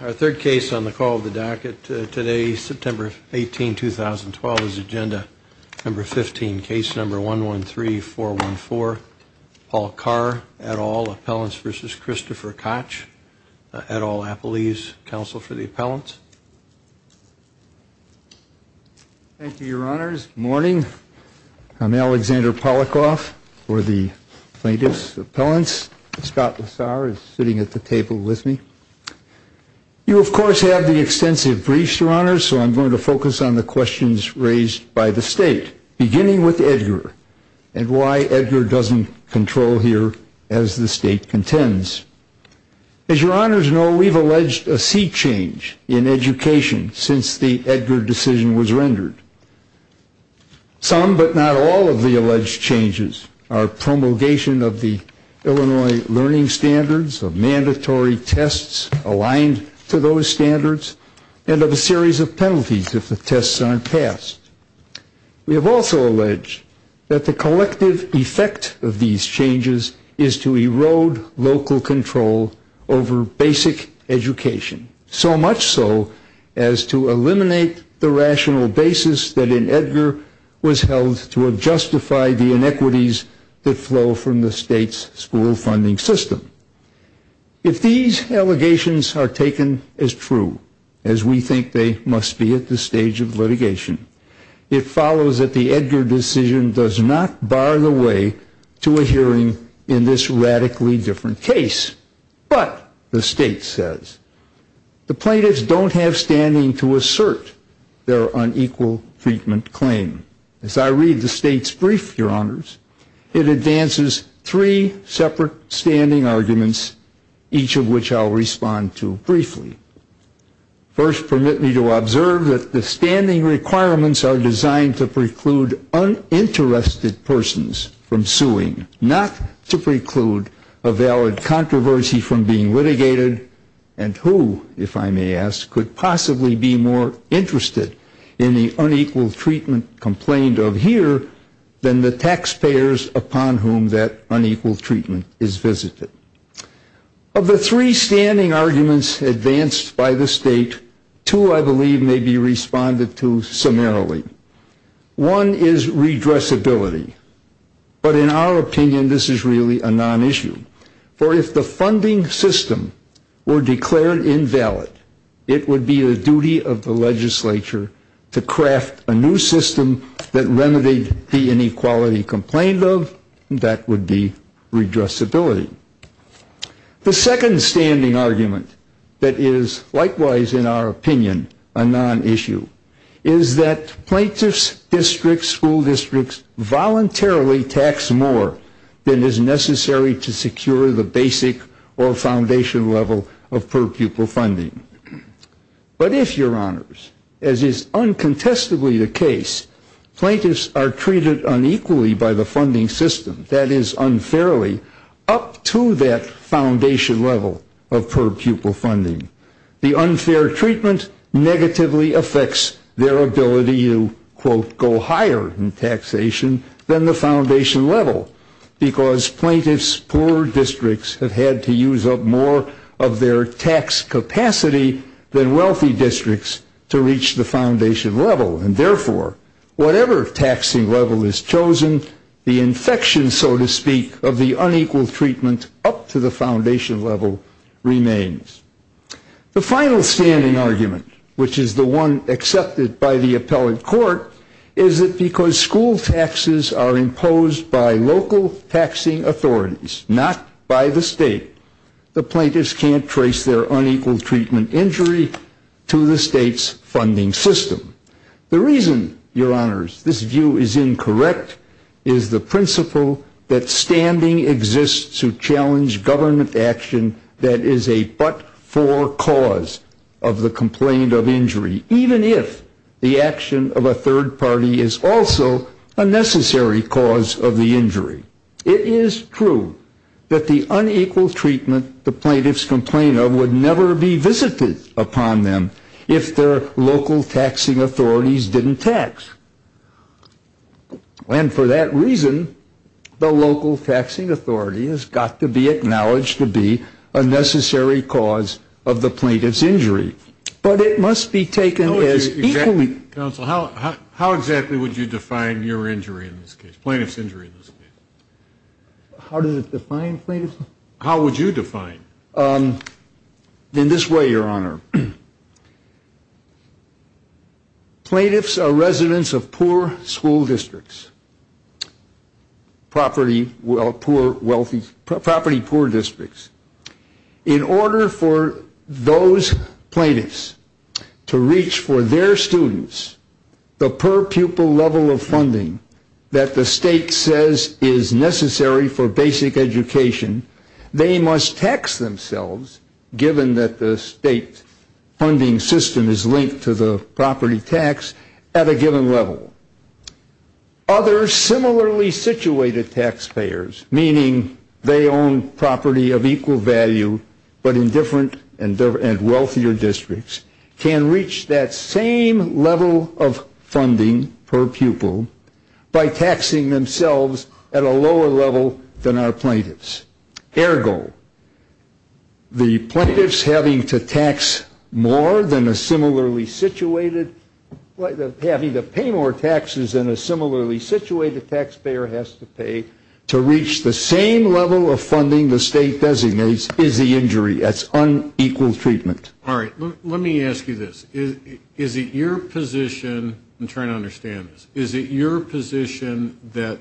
Our third case on the call of the docket today, September 18, 2012, is agenda number 15, case number 113414, Paul Carr, et al, Appellants v. Christopher Koch, et al, Appellees, counsel for the appellants. Alexander Polikoff Thank you, your honors. Good morning. I'm Alexander Polikoff for the plaintiffs' appellants. Scott Lassar is sitting at the table with me. You, of course, have the extensive briefs, your honors, so I'm going to focus on the questions raised by the state, beginning with Edgar and why Edgar doesn't control here as the state contends. As your honors know, we've alleged a sea change in education since the Edgar decision was rendered. Some, but not all, of the alleged changes are promulgation of the Illinois learning standards, of mandatory tests aligned to those standards, and of a series of penalties if the tests aren't passed. We have also alleged that the collective effect of these changes is to erode local control over basic education, so much so as to eliminate the rational basis that in Edgar was held to have justified the inequities that flow from the state's school funding system. If these allegations are taken as true, as we think they must be at this stage of litigation, it follows that the Edgar decision does not bar the way to a hearing in this radically different case. But, the state says, the plaintiffs don't have standing to assert their unequal treatment claim. As I read the state's brief, your honors, it advances three separate standing arguments, each of which I'll respond to briefly. First, permit me to observe that the standing requirements are designed to preclude uninterested persons from suing, not to preclude a valid controversy from being litigated, and who, if I may ask, could possibly be more interested in the unequal treatment complaint? Of the three standing arguments advanced by the state, two, I believe, may be responded to summarily. One is redressability. But, in our opinion, this is really a non-issue. For, if the funding system were declared invalid, it would be the duty of the legislature to craft a new system of redressability. The second standing argument that is likewise, in our opinion, a non-issue is that plaintiffs' districts, school districts, voluntarily tax more than is necessary to secure the basic or foundation level of per-pupil funding. But, if, your honors, as is uncontestably the case, plaintiffs are treated unequally by the funding system, that is, unfairly, up to that foundation level of per-pupil funding, the unfair treatment negatively affects their ability to, quote, go higher in taxation than the foundation level. Because plaintiffs' poor districts have had to use up more of their tax capacity than wealthy districts to reach the foundation level. And, therefore, whatever taxing level is chosen, the infection, so to speak, of the unequal treatment up to the foundation level remains. The final standing argument, which is the one accepted by the appellate court, is that because school taxes are imposed by local taxing authorities, not by the state, the plaintiffs can't trace their unequal treatment injury to the state's funding system. The reason, your honors, this view is incorrect is the principle that standing exists to challenge government action that is a but-for cause of the complaint of injury, even if the action of a third party is also a necessary cause of the injury. It is true that the unequal treatment the plaintiffs complain of would never be visited upon them if their local taxing authorities didn't tax. And, for that reason, the local taxing authority has got to be acknowledged to be a necessary cause of the plaintiff's injury. But it must be taken as equally... Counsel, how exactly would you define your injury in this case, plaintiff's injury in this case? How does it define plaintiff's injury? How would you define? In this way, your honor, plaintiffs are residents of poor school districts, property poor districts. In order for those plaintiffs to reach for their students, the per-pupil level of funding that the state says is necessary for basic education, they must tax themselves, given that the state's funding system is linked to the property tax, at a given level. Other similarly situated taxpayers, meaning they own property of equal value but in different and wealthier districts, can reach that same level of funding per pupil by taxing themselves at a lower level than our plaintiffs. Ergo, the plaintiffs having to tax more than a similarly situated, having to pay more taxes than a similarly situated taxpayer has to pay to reach the same level of funding the state designates is the injury. That's unequal treatment. All right. Let me ask you this. Is it your position, I'm trying to understand this. Is it your position that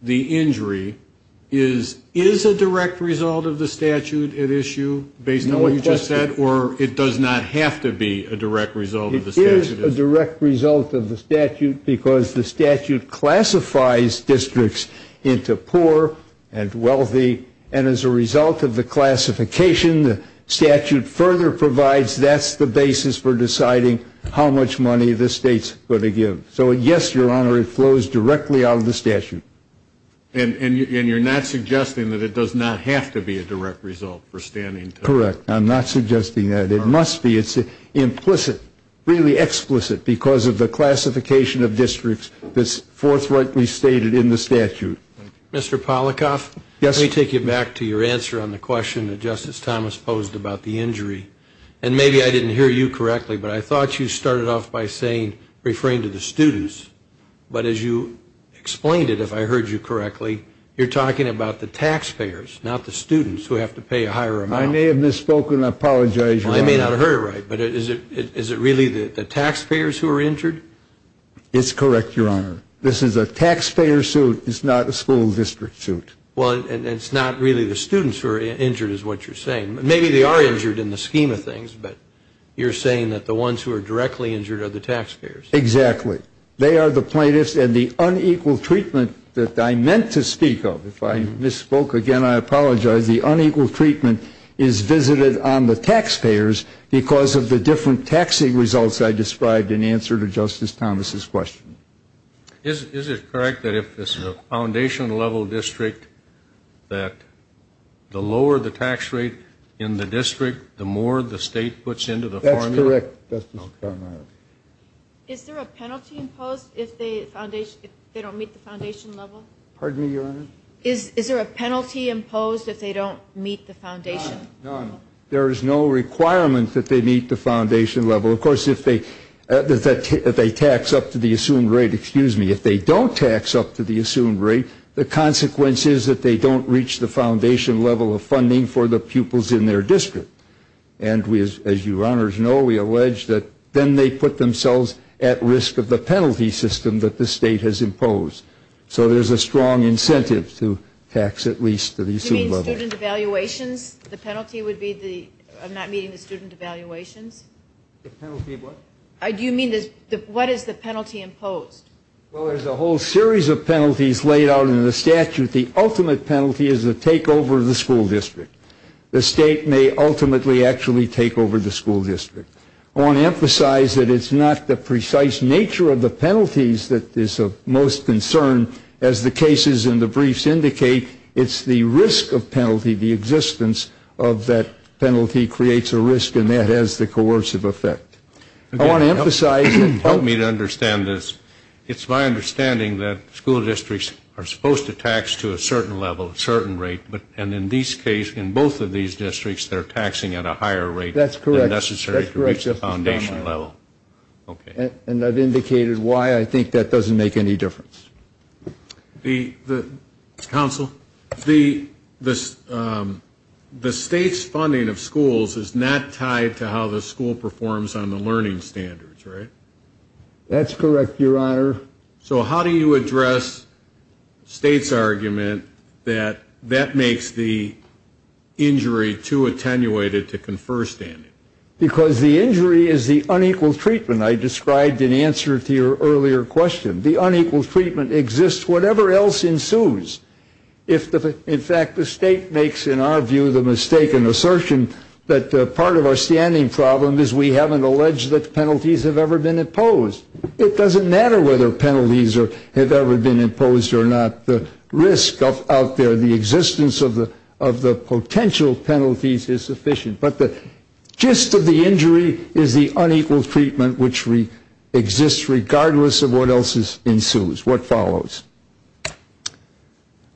the injury is a direct result of the statute at issue, based on what you just said, or it does not have to be a direct result of the statute? It is a direct result of the statute because the statute classifies districts into poor and wealthy. And as a result of the classification, the statute further provides that's the basis for deciding how much money the state's going to give. So, yes, Your Honor, it flows directly out of the statute. And you're not suggesting that it does not have to be a direct result for standing? Correct. I'm not suggesting that. It must be. It's implicit, really explicit, because of the classification of districts that's forthrightly stated in the statute. Mr. Polikoff? Yes. Let me take you back to your answer on the question that Justice Thomas posed about the injury. And maybe I didn't hear you correctly, but I thought you started off by saying, referring to the students. But as you explained it, if I heard you correctly, you're talking about the taxpayers, not the students, who have to pay a higher amount. I may have misspoken. I apologize, Your Honor. I may not have heard it right. But is it really the taxpayers who are injured? It's correct, Your Honor. This is a taxpayer suit. It's not a school district suit. Well, and it's not really the students who are injured, is what you're saying. Maybe they are injured in the scheme of things. But you're saying that the ones who are directly injured are the taxpayers. Exactly. They are the plaintiffs. And the unequal treatment that I meant to speak of, if I misspoke again, I apologize, the unequal treatment is visited on the taxpayers because of the different taxing results I described in answer to Justice Thomas' question. Is it correct that if it's a foundation level district, that the lower the tax rate in the district, the more the state puts into the formula? That's correct, Justice O'Connor. Is there a penalty imposed if they don't meet the foundation level? Pardon me, Your Honor? Is there a penalty imposed if they don't meet the foundation level? None. There is no requirement that they meet the foundation level. Of course, if they tax up to the assumed rate, excuse me, if they don't tax up to the assumed rate, the consequence is that they don't reach the foundation level of funding for the pupils in their district. And as you honors know, we allege that then they put themselves at risk of the penalty system that the state has imposed. So there's a strong incentive to tax at least to the assumed level. Do you mean student evaluations? The penalty would be the not meeting the student evaluations? The penalty of what? Do you mean what is the penalty imposed? Well, there's a whole series of penalties laid out in the statute. The ultimate penalty is to take over the school district. The state may ultimately actually take over the school district. I want to emphasize that it's not the precise nature of the penalties that is of most concern. As the cases in the briefs indicate, it's the risk of penalty, the existence of that penalty creates a risk, and that has the coercive effect. I want to emphasize and help me to understand this. It's my understanding that school districts are supposed to tax to a certain level, a certain rate, and in these cases, in both of these districts, they're taxing at a higher rate than necessary to reach the foundation level. And I've indicated why I think that doesn't make any difference. Counsel, the state's funding of schools is not tied to how the school performs on the learning standards, right? That's correct, Your Honor. So how do you address the state's argument that that makes the injury too attenuated to confer standing? Because the injury is the unequal treatment I described in answer to your earlier question. The unequal treatment exists whatever else ensues. In fact, the state makes, in our view, the mistaken assertion that part of our standing problem is we haven't alleged that penalties have ever been imposed. It doesn't matter whether penalties have ever been imposed or not. The risk out there, the existence of the potential penalties is sufficient. But the gist of the injury is the unequal treatment which exists regardless of what else ensues. What follows?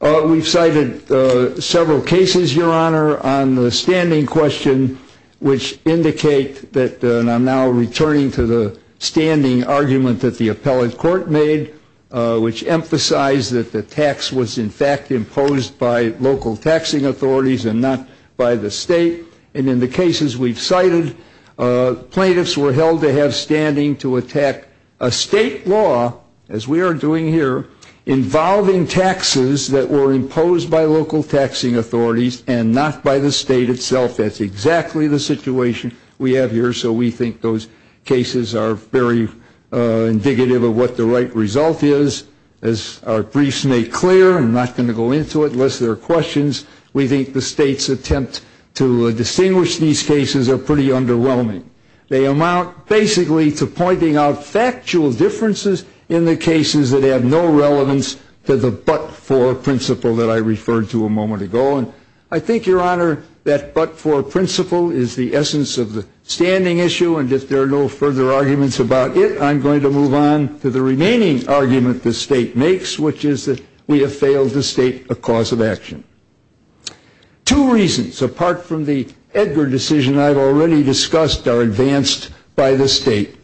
We've cited several cases, Your Honor, on the standing question, which indicate that, and I'm now returning to the standing argument that the appellate court made, which emphasized that the tax was in fact imposed by local taxing authorities and not by the state. And in the cases we've cited, plaintiffs were held to have standing to attack a state law, as we are doing here, involving taxes that were imposed by local taxing authorities and not by the state itself. That's exactly the situation we have here. So we think those cases are very indicative of what the right result is. As our briefs make clear, I'm not going to go into it unless there are questions, we think the state's attempt to distinguish these cases are pretty underwhelming. They amount basically to pointing out factual differences in the cases that have no relevance to the but-for principle that I referred to a moment ago. And I think, Your Honor, that but-for principle is the essence of the standing issue, and if there are no further arguments about it, I'm going to move on to the remaining argument the state makes, which is that we have failed to state a cause of action. Two reasons, apart from the Edgar decision I've already discussed, are advanced by the state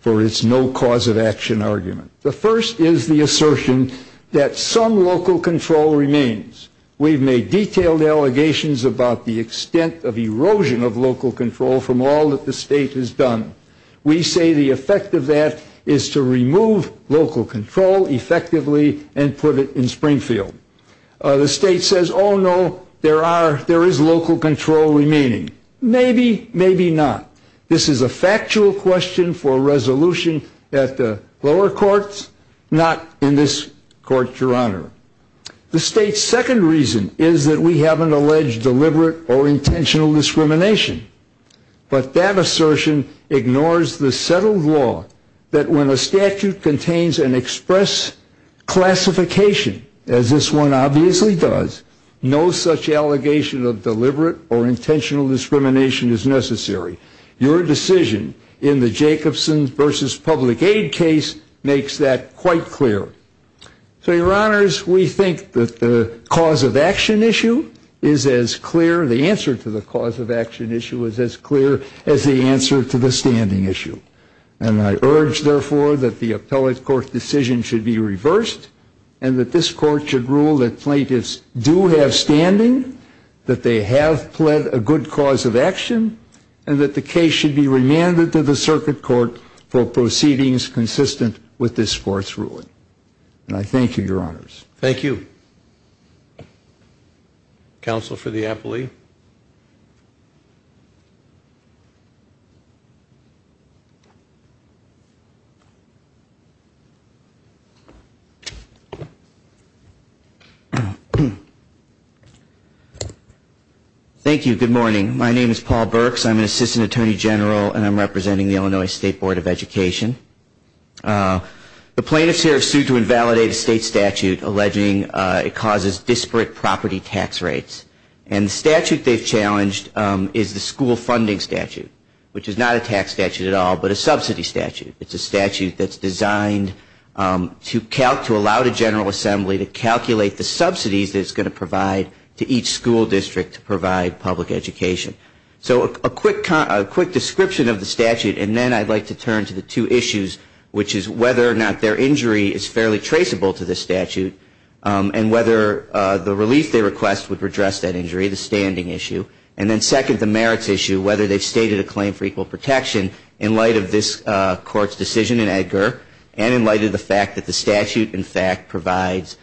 for its no cause of action argument. The first is the assertion that some local control remains. We've made detailed allegations about the extent of erosion of local control from all that the state has done. We say the effect of that is to remove local control effectively and put it in Springfield. The state says, oh, no, there is local control remaining. Maybe, maybe not. This is a factual question for resolution at the lower courts, not in this court, Your Honor. The state's second reason is that we haven't alleged deliberate or intentional discrimination. But that assertion ignores the settled law that when a statute contains an express classification, as this one obviously does, no such allegation of deliberate or intentional discrimination is necessary. Your decision in the Jacobson v. Public Aid case makes that quite clear. So, Your Honors, we think that the cause of action issue is as clear, the answer to the cause of action issue is as clear as the answer to the standing issue. And I urge, therefore, that the appellate court decision should be reversed and that this court should rule that plaintiffs do have standing, that they have pled a good cause of action, and that the case should be remanded to the circuit court for proceedings consistent with this court's ruling. And I thank you, Your Honors. Thank you. Counsel for the appellee. Thank you. Good morning. My name is Paul Burks. I'm an assistant attorney general, and I'm representing the Illinois State Board of Education. The plaintiffs here have sued to invalidate a state statute alleging it causes disparate property tax rates. And the statute they've challenged is the school funding statute, which is not a tax statute at all, but a subsidy statute. It's a statute that's designed to allow the General Assembly to calculate the subsidies that it's going to provide to each school district to provide public education. So a quick description of the statute, and then I'd like to turn to the two issues, which is whether or not their injury is fairly traceable to this statute and whether the relief they request would redress that injury, the standing issue. And then second, the merits issue, whether they've stated a claim for equal protection in light of this court's decision in Edgar and in light of the fact that the statute, in fact, provides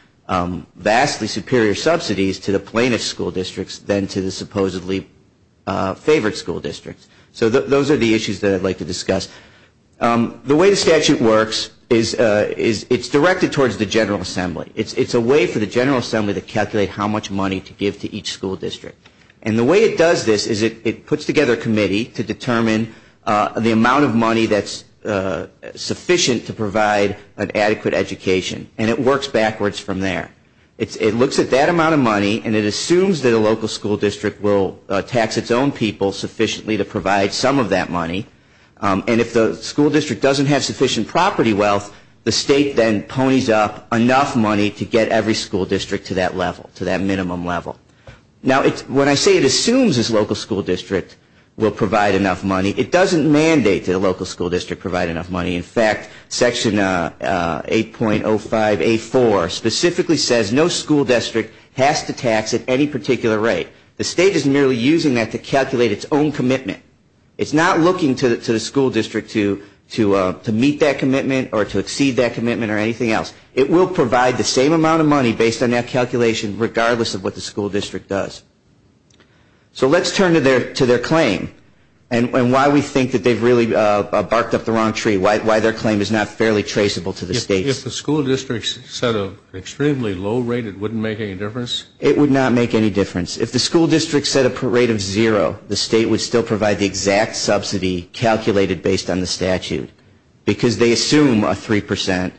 vastly superior subsidies to the plaintiff's school districts than to the supposedly favored school districts. So those are the issues that I'd like to discuss. The way the statute works is it's directed towards the General Assembly. It's a way for the General Assembly to calculate how much money to give to each school district. And the way it does this is it puts together a committee to determine the amount of money that's sufficient to provide an adequate education. And it works backwards from there. It looks at that amount of money, and it assumes that a local school district will tax its own people sufficiently to provide some of that money. And if the school district doesn't have sufficient property wealth, the state then ponies up enough money to get every school district to that level, to that minimum level. Now, when I say it assumes this local school district will provide enough money, it doesn't mandate that a local school district provide enough money. In fact, Section 8.05A4 specifically says no school district has to tax at any particular rate. The state is merely using that to calculate its own commitment. It's not looking to the school district to meet that commitment or to exceed that commitment or anything else. It will provide the same amount of money based on that calculation regardless of what the school district does. So let's turn to their claim and why we think that they've really barked up the wrong tree, why their claim is not fairly traceable to the state. If the school district set an extremely low rate, it wouldn't make any difference? It would not make any difference. If the school district set a rate of zero, the state would still provide the exact subsidy calculated based on the statute. Because they assume a 3%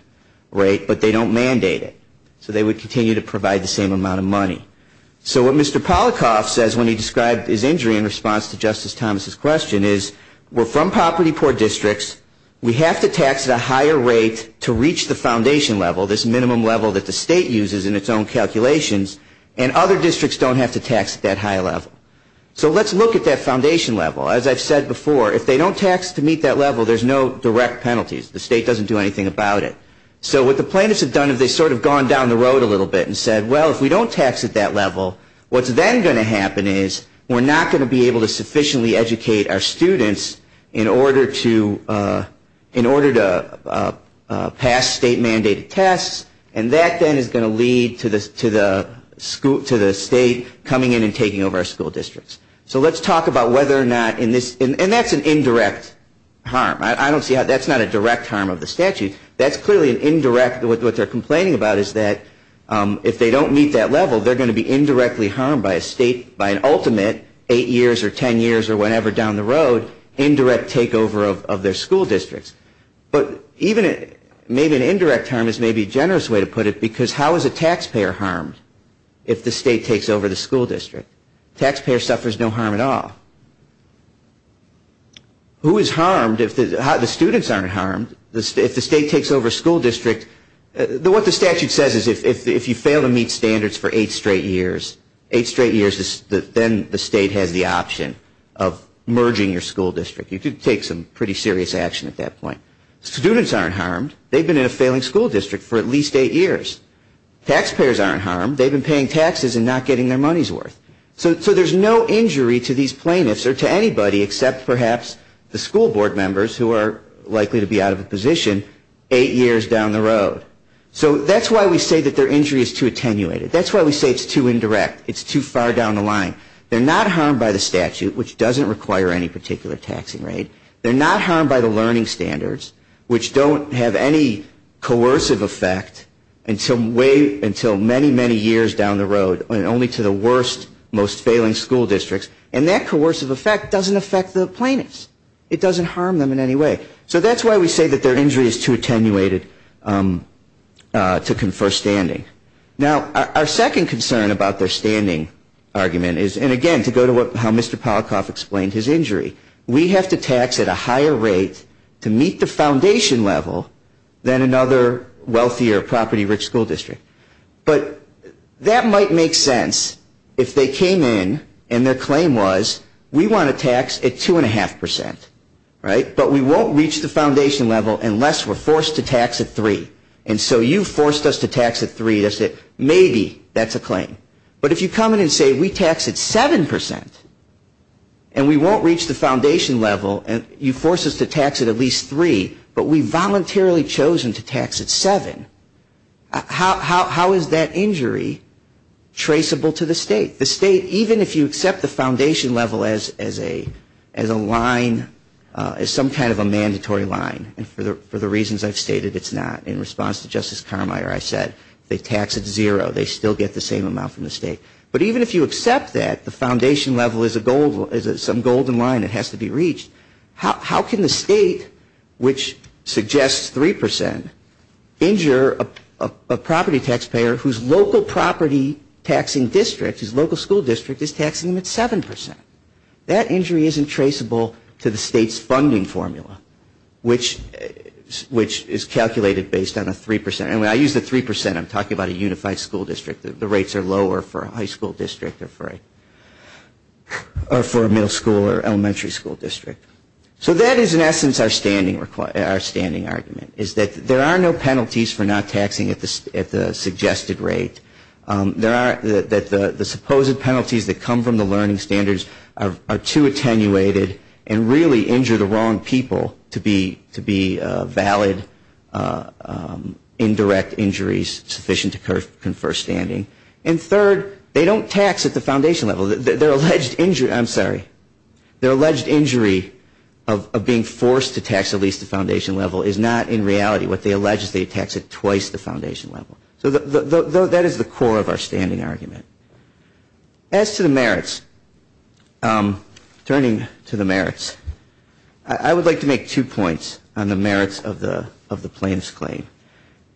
rate, but they don't mandate it. So they would continue to provide the same amount of money. So what Mr. Polikoff says when he described his injury in response to Justice Thomas' question is, we're from property-poor districts, we have to tax at a higher rate to reach the foundation level, this minimum level that the state uses in its own calculations, and other districts don't have to tax at that high level. So let's look at that foundation level. As I've said before, if they don't tax to meet that level, there's no direct penalties. The state doesn't do anything about it. So what the plaintiffs have done is they've sort of gone down the road a little bit and said, well, if we don't tax at that level, what's then going to happen is we're not going to be able to sufficiently educate our students in order to pass state-mandated tests, and that then is going to lead to the state coming in and taking over our school districts. So let's talk about whether or not in this, and that's an indirect harm. I don't see how that's not a direct harm of the statute. That's clearly an indirect, what they're complaining about is that if they don't meet that level, they're going to be indirectly harmed by a state, by an ultimate, eight years or ten years or whatever down the road, indirect takeover of their school districts. But even maybe an indirect harm is maybe a generous way to put it, because how is a taxpayer harmed if the state takes over the school district? A taxpayer suffers no harm at all. Who is harmed if the students aren't harmed if the state takes over a school district? What the statute says is if you fail to meet standards for eight straight years, eight straight years then the state has the option of merging your school district. You could take some pretty serious action at that point. Students aren't harmed. They've been in a failing school district for at least eight years. Taxpayers aren't harmed. They've been paying taxes and not getting their money's worth. So there's no injury to these plaintiffs or to anybody except perhaps the school board members who are likely to be out of a position eight years down the road. So that's why we say that their injury is too attenuated. That's why we say it's too indirect. It's too far down the line. They're not harmed by the statute, which doesn't require any particular taxing rate. They're not harmed by the learning standards, which don't have any coercive effect until many, many years down the road and only to the worst, most failing school districts. And that coercive effect doesn't affect the plaintiffs. It doesn't harm them in any way. So that's why we say that their injury is too attenuated to confer standing. Now, our second concern about their standing argument is, and again to go to how Mr. Polakoff explained his injury, we have to tax at a higher rate to meet the foundation level than another wealthier, property-rich school district. But that might make sense if they came in and their claim was, we want to tax at two and a half percent, right? But we won't reach the foundation level unless we're forced to tax at three. And so you forced us to tax at three. Maybe that's a claim. But if you come in and say, we tax at seven percent and we won't reach the foundation level and you force us to tax at at least three, but we've voluntarily chosen to tax at seven, how is that injury traceable to the state? The state, even if you accept the foundation level as a line, as some kind of a mandatory line, and for the reasons I've stated, it's not. In response to Justice Carmeier, I said, they tax at zero. They still get the same amount from the state. But even if you accept that the foundation level is some golden line that has to be reached, how can the state, which suggests three percent, injure a property taxpayer whose local property taxing district, his local school district, is taxing him at seven percent? That injury isn't traceable to the state's funding formula, which is calculated based on a three percent. And when I use the three percent, I'm talking about a unified school district. The rates are lower for a high school district or for a middle school or elementary school district. So that is, in essence, our standing argument, is that there are no penalties for not taxing at the suggested rate. That the supposed penalties that come from the learning standards are too attenuated and really injure the wrong people to be valid, indirect injuries sufficient to confer standing. And third, they don't tax at the foundation level. Their alleged injury of being forced to tax at least the foundation level is not in reality what they allege. They tax at twice the foundation level. So that is the core of our standing argument. As to the merits, turning to the merits, I would like to make two points on the merits of the plaintiff's claim.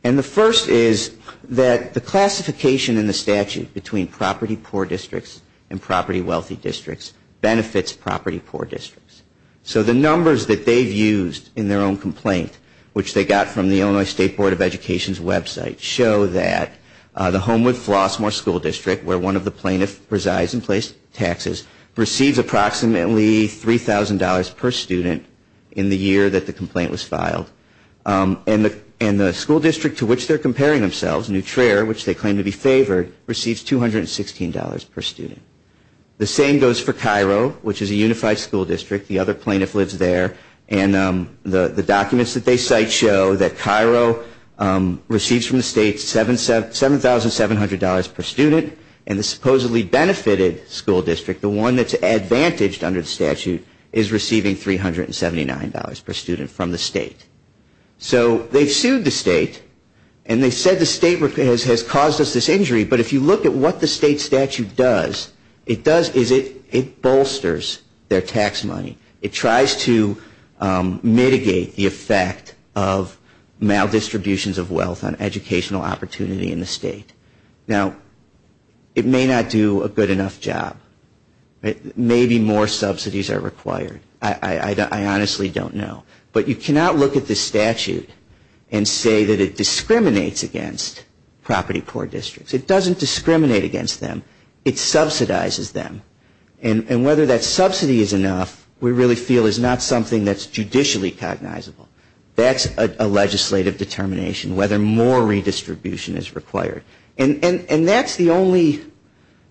And the first is that the classification in the statute between property poor districts and property wealthy districts benefits property poor districts. So the numbers that they've used in their own complaint, which they got from the Illinois State Board of Education's website, show that the Homewood-Flossmoor School District, where one of the plaintiffs resides and pays taxes, receives approximately $3,000 per student in the year that the complaint was filed. And the school district to which they're comparing themselves, Neutrera, which they claim to be favored, receives $216 per student. The same goes for Cairo, which is a unified school district. The other plaintiff lives there. And the documents that they cite show that Cairo receives from the state $7,700 per student. And the supposedly benefited school district, the one that's advantaged under the statute, is receiving $379 per student from the state. So they've sued the state. And they said the state has caused us this injury. But if you look at what the state statute does, it bolsters their tax money. It tries to mitigate the effect of maldistributions of wealth on educational opportunity in the state. Now, it may not do a good enough job. Maybe more subsidies are required. I honestly don't know. But you cannot look at this statute and say that it discriminates against property-poor districts. It doesn't discriminate against them. It subsidizes them. And whether that subsidy is enough we really feel is not something that's judicially cognizable. That's a legislative determination, whether more redistribution is required. And that's the only,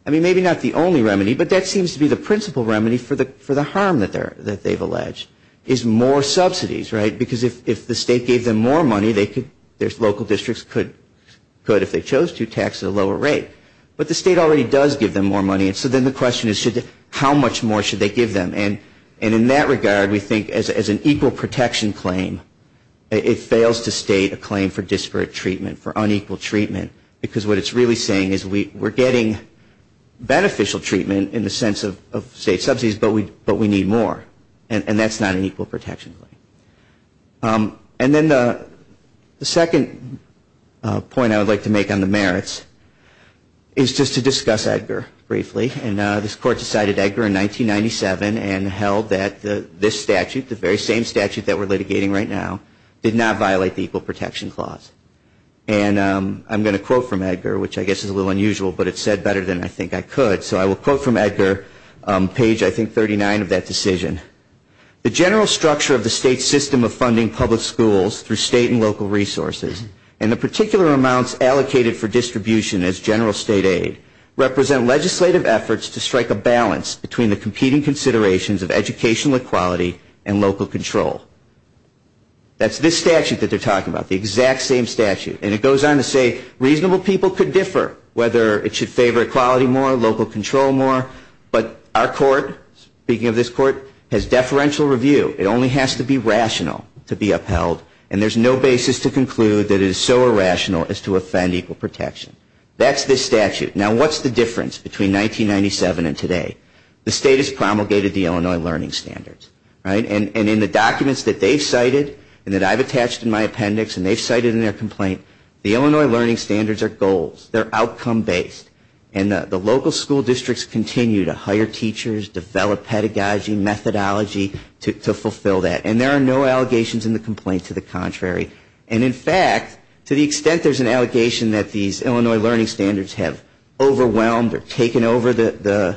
I mean, maybe not the only remedy, but that seems to be the principal remedy for the harm that they've alleged, is more subsidies, right? Because if the state gave them more money, their local districts could, if they chose to, tax at a lower rate. But the state already does give them more money. And so then the question is, how much more should they give them? And in that regard, we think as an equal protection claim, it fails to state a claim for disparate treatment, for unequal treatment. Because what it's really saying is we're getting beneficial treatment in the sense of state subsidies, but we need more. And that's not an equal protection claim. And then the second point I would like to make on the merits is just to discuss Edgar briefly. And this Court decided Edgar in 1997 and held that this statute, the very same statute that we're litigating right now, did not violate the Equal Protection Clause. And I'm going to quote from Edgar, which I guess is a little unusual, but it's said better than I think I could. So I will quote from Edgar, page, I think, 39 of that decision. The general structure of the state system of funding public schools through state and local resources and the particular amounts allocated for distribution as general state aid represent legislative efforts to strike a balance between the competing considerations of educational equality and local control. That's this statute that they're talking about, the exact same statute. And it goes on to say reasonable people could differ, whether it should favor equality more, local control more. But our court, speaking of this court, has deferential review. It only has to be rational to be upheld. And there's no basis to conclude that it is so irrational as to offend equal protection. That's this statute. Now, what's the difference between 1997 and today? The state has promulgated the Illinois Learning Standards. And in the documents that they've cited and that I've attached in my appendix and they've cited in their complaint, the Illinois Learning Standards are goals. They're outcome-based. And the local school districts continue to hire teachers, develop pedagogy, methodology to fulfill that. And there are no allegations in the complaint to the contrary. And, in fact, to the extent there's an allegation that these Illinois Learning Standards have overwhelmed or taken over the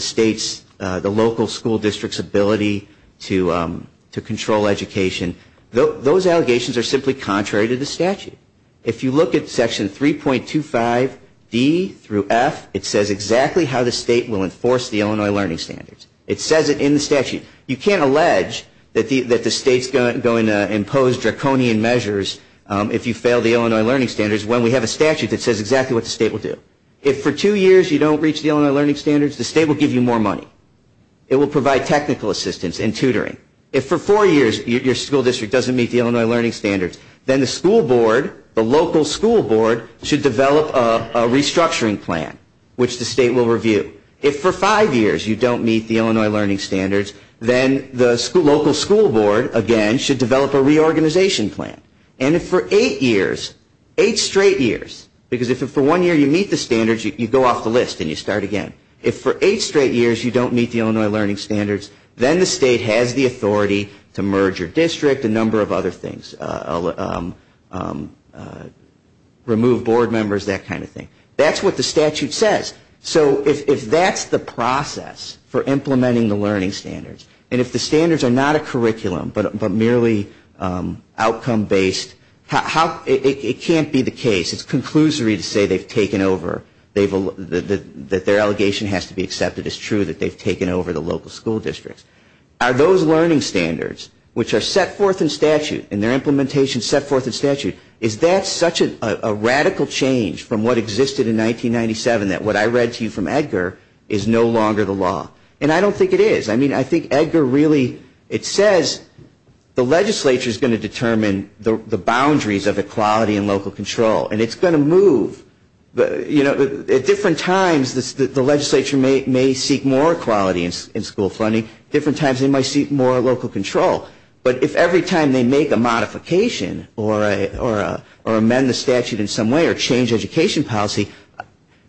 state's, the local school district's ability to control education, those allegations are simply contrary to the statute. If you look at Section 3.25d through f, it says exactly how the state will enforce the Illinois Learning Standards. It says it in the statute. You can't allege that the state's going to impose draconian measures if you fail the Illinois Learning Standards when we have a statute that says exactly what the state will do. If for two years you don't reach the Illinois Learning Standards, the state will give you more money. It will provide technical assistance and tutoring. If for four years your school district doesn't meet the Illinois Learning Standards, then the school board, the local school board, should develop a restructuring plan, which the state will review. If for five years you don't meet the Illinois Learning Standards, then the local school board, again, should develop a reorganization plan. And if for eight years, eight straight years, because if for one year you meet the standards, you go off the list and you start again. If for eight straight years you don't meet the Illinois Learning Standards, then the state has the authority to merge your district, a number of other things, remove board members, that kind of thing. That's what the statute says. So if that's the process for implementing the learning standards, and if the standards are not a curriculum but merely outcome-based, it can't be the case. It's conclusory to say they've taken over, that their allegation has to be accepted. It's true that they've taken over the local school districts. Are those learning standards, which are set forth in statute and their implementation set forth in statute, is that such a radical change from what existed in 1997 that what I read to you from Edgar is no longer the law? And I don't think it is. I mean, I think Edgar really, it says the legislature is going to determine the boundaries of equality and local control. And it's going to move. At different times, the legislature may seek more equality in school funding. At different times, they might seek more local control. But if every time they make a modification or amend the statute in some way or change education policy,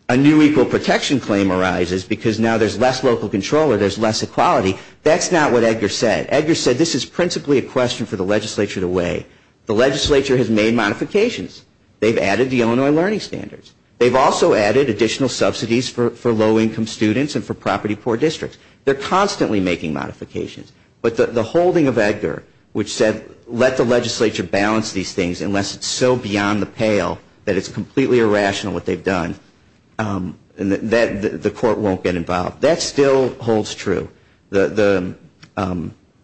a new equal protection claim arises because now there's less local control or there's less equality. That's not what Edgar said. Edgar said this is principally a question for the legislature to weigh. The legislature has made modifications. They've added the Illinois learning standards. They've also added additional subsidies for low-income students and for property-poor districts. They're constantly making modifications. But the holding of Edgar, which said let the legislature balance these things unless it's so beyond the pale that it's completely irrational what they've done, the court won't get involved. That still holds true. The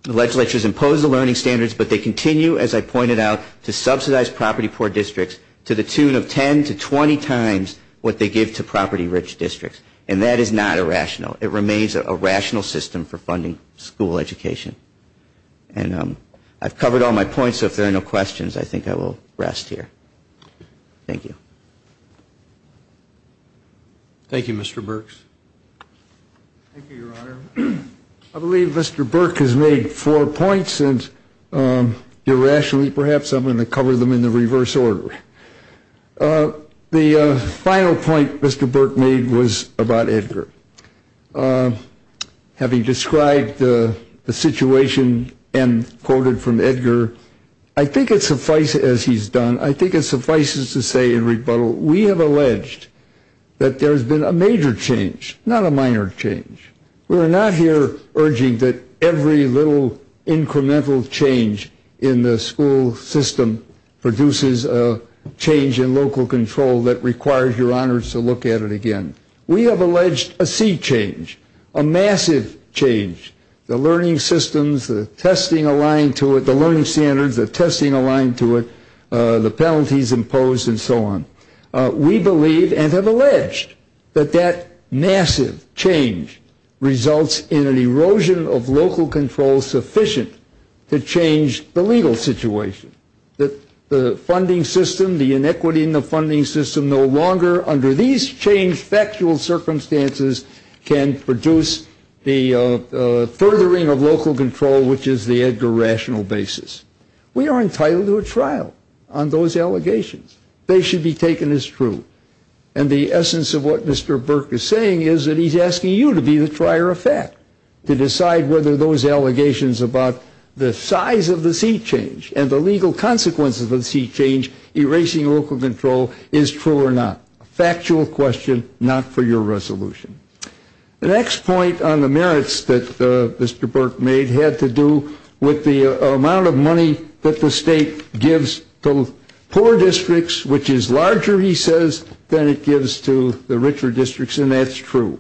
legislature has imposed the learning standards, but they continue, as I pointed out, to subsidize property-poor districts to the tune of 10 to 20 times what they give to property-rich districts. And that is not irrational. It remains a rational system for funding school education. And I've covered all my points, so if there are no questions, I think I will rest here. Thank you. Thank you, Mr. Birx. Thank you, Your Honor. I believe Mr. Birx has made four points, and irrationally perhaps I'm going to cover them in the reverse order. The final point Mr. Birx made was about Edgar. Having described the situation and quoted from Edgar, I think it suffices, as he's done, I think it suffices to say in rebuttal we have alleged that there has been a major change, not a minor change. We are not here urging that every little incremental change in the school system produces a change in local control that requires Your Honors to look at it again. We have alleged a sea change, a massive change, the learning systems, the testing aligned to it, the learning standards, the testing aligned to it, the penalties imposed and so on. We believe and have alleged that that massive change results in an erosion of local control sufficient to change the legal situation, that the funding system, the inequity in the funding system no longer under these changed factual circumstances can produce the furthering of local control, which is the Edgar rational basis. We are entitled to a trial on those allegations. They should be taken as true. And the essence of what Mr. Birx is saying is that he's asking you to be the trier of fact, to decide whether those allegations about the size of the sea change and the legal consequences of the sea change erasing local control is true or not. Factual question, not for your resolution. The next point on the merits that Mr. Birx made had to do with the amount of money that the state gives to poor districts, which is larger, he says, than it gives to the richer districts, and that's true.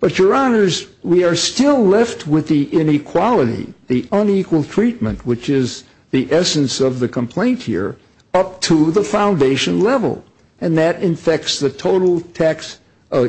But your honors, we are still left with the inequality, the unequal treatment, which is the essence of the complaint here up to the foundation level. And that infects the total tax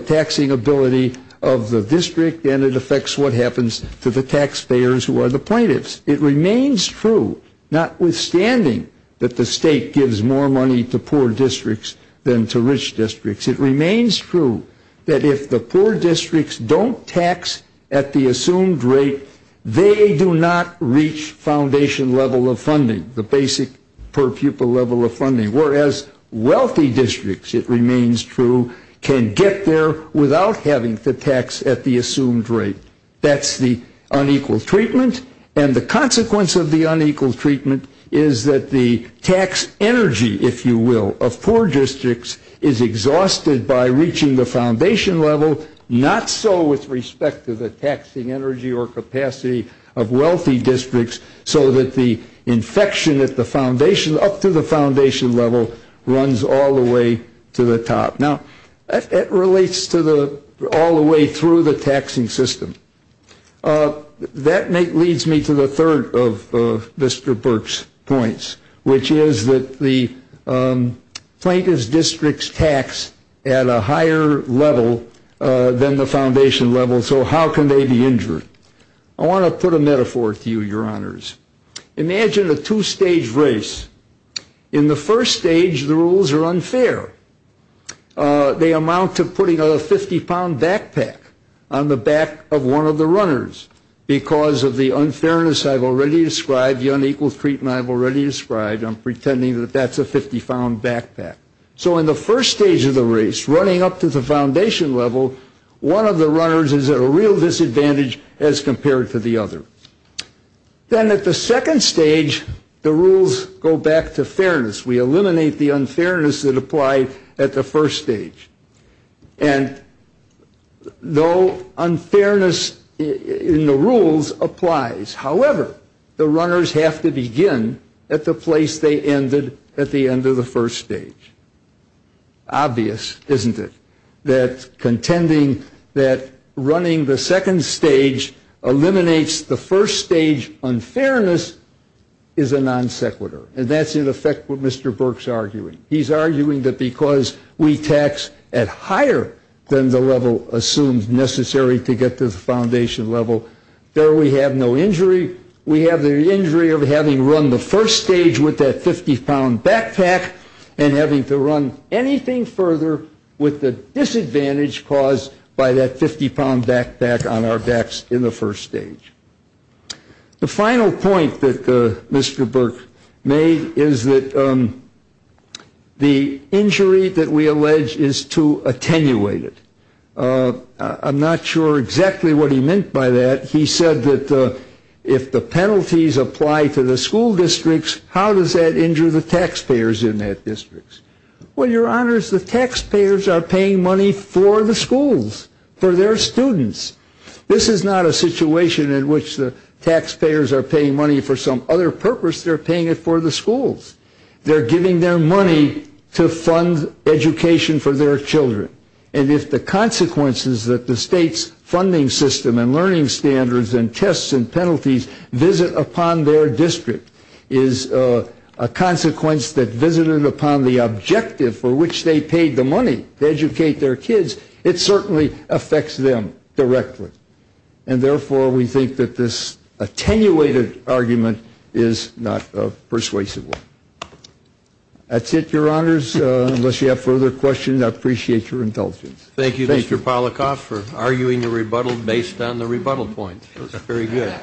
taxing ability of the district. And it affects what happens to the taxpayers who are the plaintiffs. It remains true, notwithstanding that the state gives more money to poor districts than to rich districts. It remains true that if the poor districts don't tax at the assumed rate, they do not reach foundation level of funding, the basic per-pupil level of funding, whereas wealthy districts, it remains true, can get there without having to tax at the assumed rate. That's the unequal treatment. And the consequence of the unequal treatment is that the tax energy, if you will, of poor districts is exhausted by reaching the foundation level, not so with respect to the taxing energy or capacity of wealthy districts, so that the infection at the foundation, up to the foundation level, runs all the way to the top. Now, that relates to all the way through the taxing system. That leads me to the third of Mr. Burke's points, which is that the plaintiff's district's tax at a higher level than the foundation level, so how can they be injured? I want to put a metaphor to you, Your Honors. Imagine a two-stage race. In the first stage, the rules are unfair. They amount to putting a 50-pound backpack on the back of one of the runners because of the unfairness I've already described, the unequal treatment I've already described. I'm pretending that that's a 50-pound backpack. So in the first stage of the race, running up to the foundation level, one of the runners is at a real disadvantage as compared to the other. Then at the second stage, the rules go back to fairness. We eliminate the unfairness that applied at the first stage. And though unfairness in the rules applies, however, the runners have to begin at the place they ended at the end of the first stage. Obvious, isn't it, that contending that running the second stage eliminates the first stage unfairness is a non sequitur. And that's, in effect, what Mr. Burke's arguing. He's arguing that because we tax at higher than the level assumed necessary to get to the foundation level, there we have no injury. We have the injury of having run the first stage with that 50-pound backpack and having to run anything further with the disadvantage caused by that 50-pound backpack on our backs in the first stage. The final point that Mr. Burke made is that the injury that we allege is too attenuated. I'm not sure exactly what he meant by that. He said that if the penalties apply to the school districts, how does that injure the taxpayers in that district? Well, your honors, the taxpayers are paying money for the schools, for their students. This is not a situation in which the taxpayers are paying money for some other purpose. They're paying it for the schools. They're giving their money to fund education for their children. And if the consequences that the state's funding system and learning standards and tests and penalties visit upon their district is a consequence that visited upon the objective for which they paid the money to educate their kids, it certainly affects them directly. And therefore, we think that this attenuated argument is not persuasive. That's it, your honors. Unless you have further questions, I appreciate your indulgence. Thank you, Mr. Polikoff, for arguing the rebuttal based on the rebuttal point. It was very good.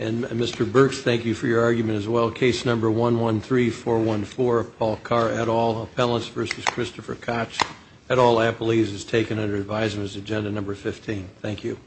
And Mr. Burks, thank you for your argument as well. Case number 113414, Paul Carr, et al., Appellants v. Christopher Koch, et al., Appellees is taken under advisement as agenda number 15. Thank you.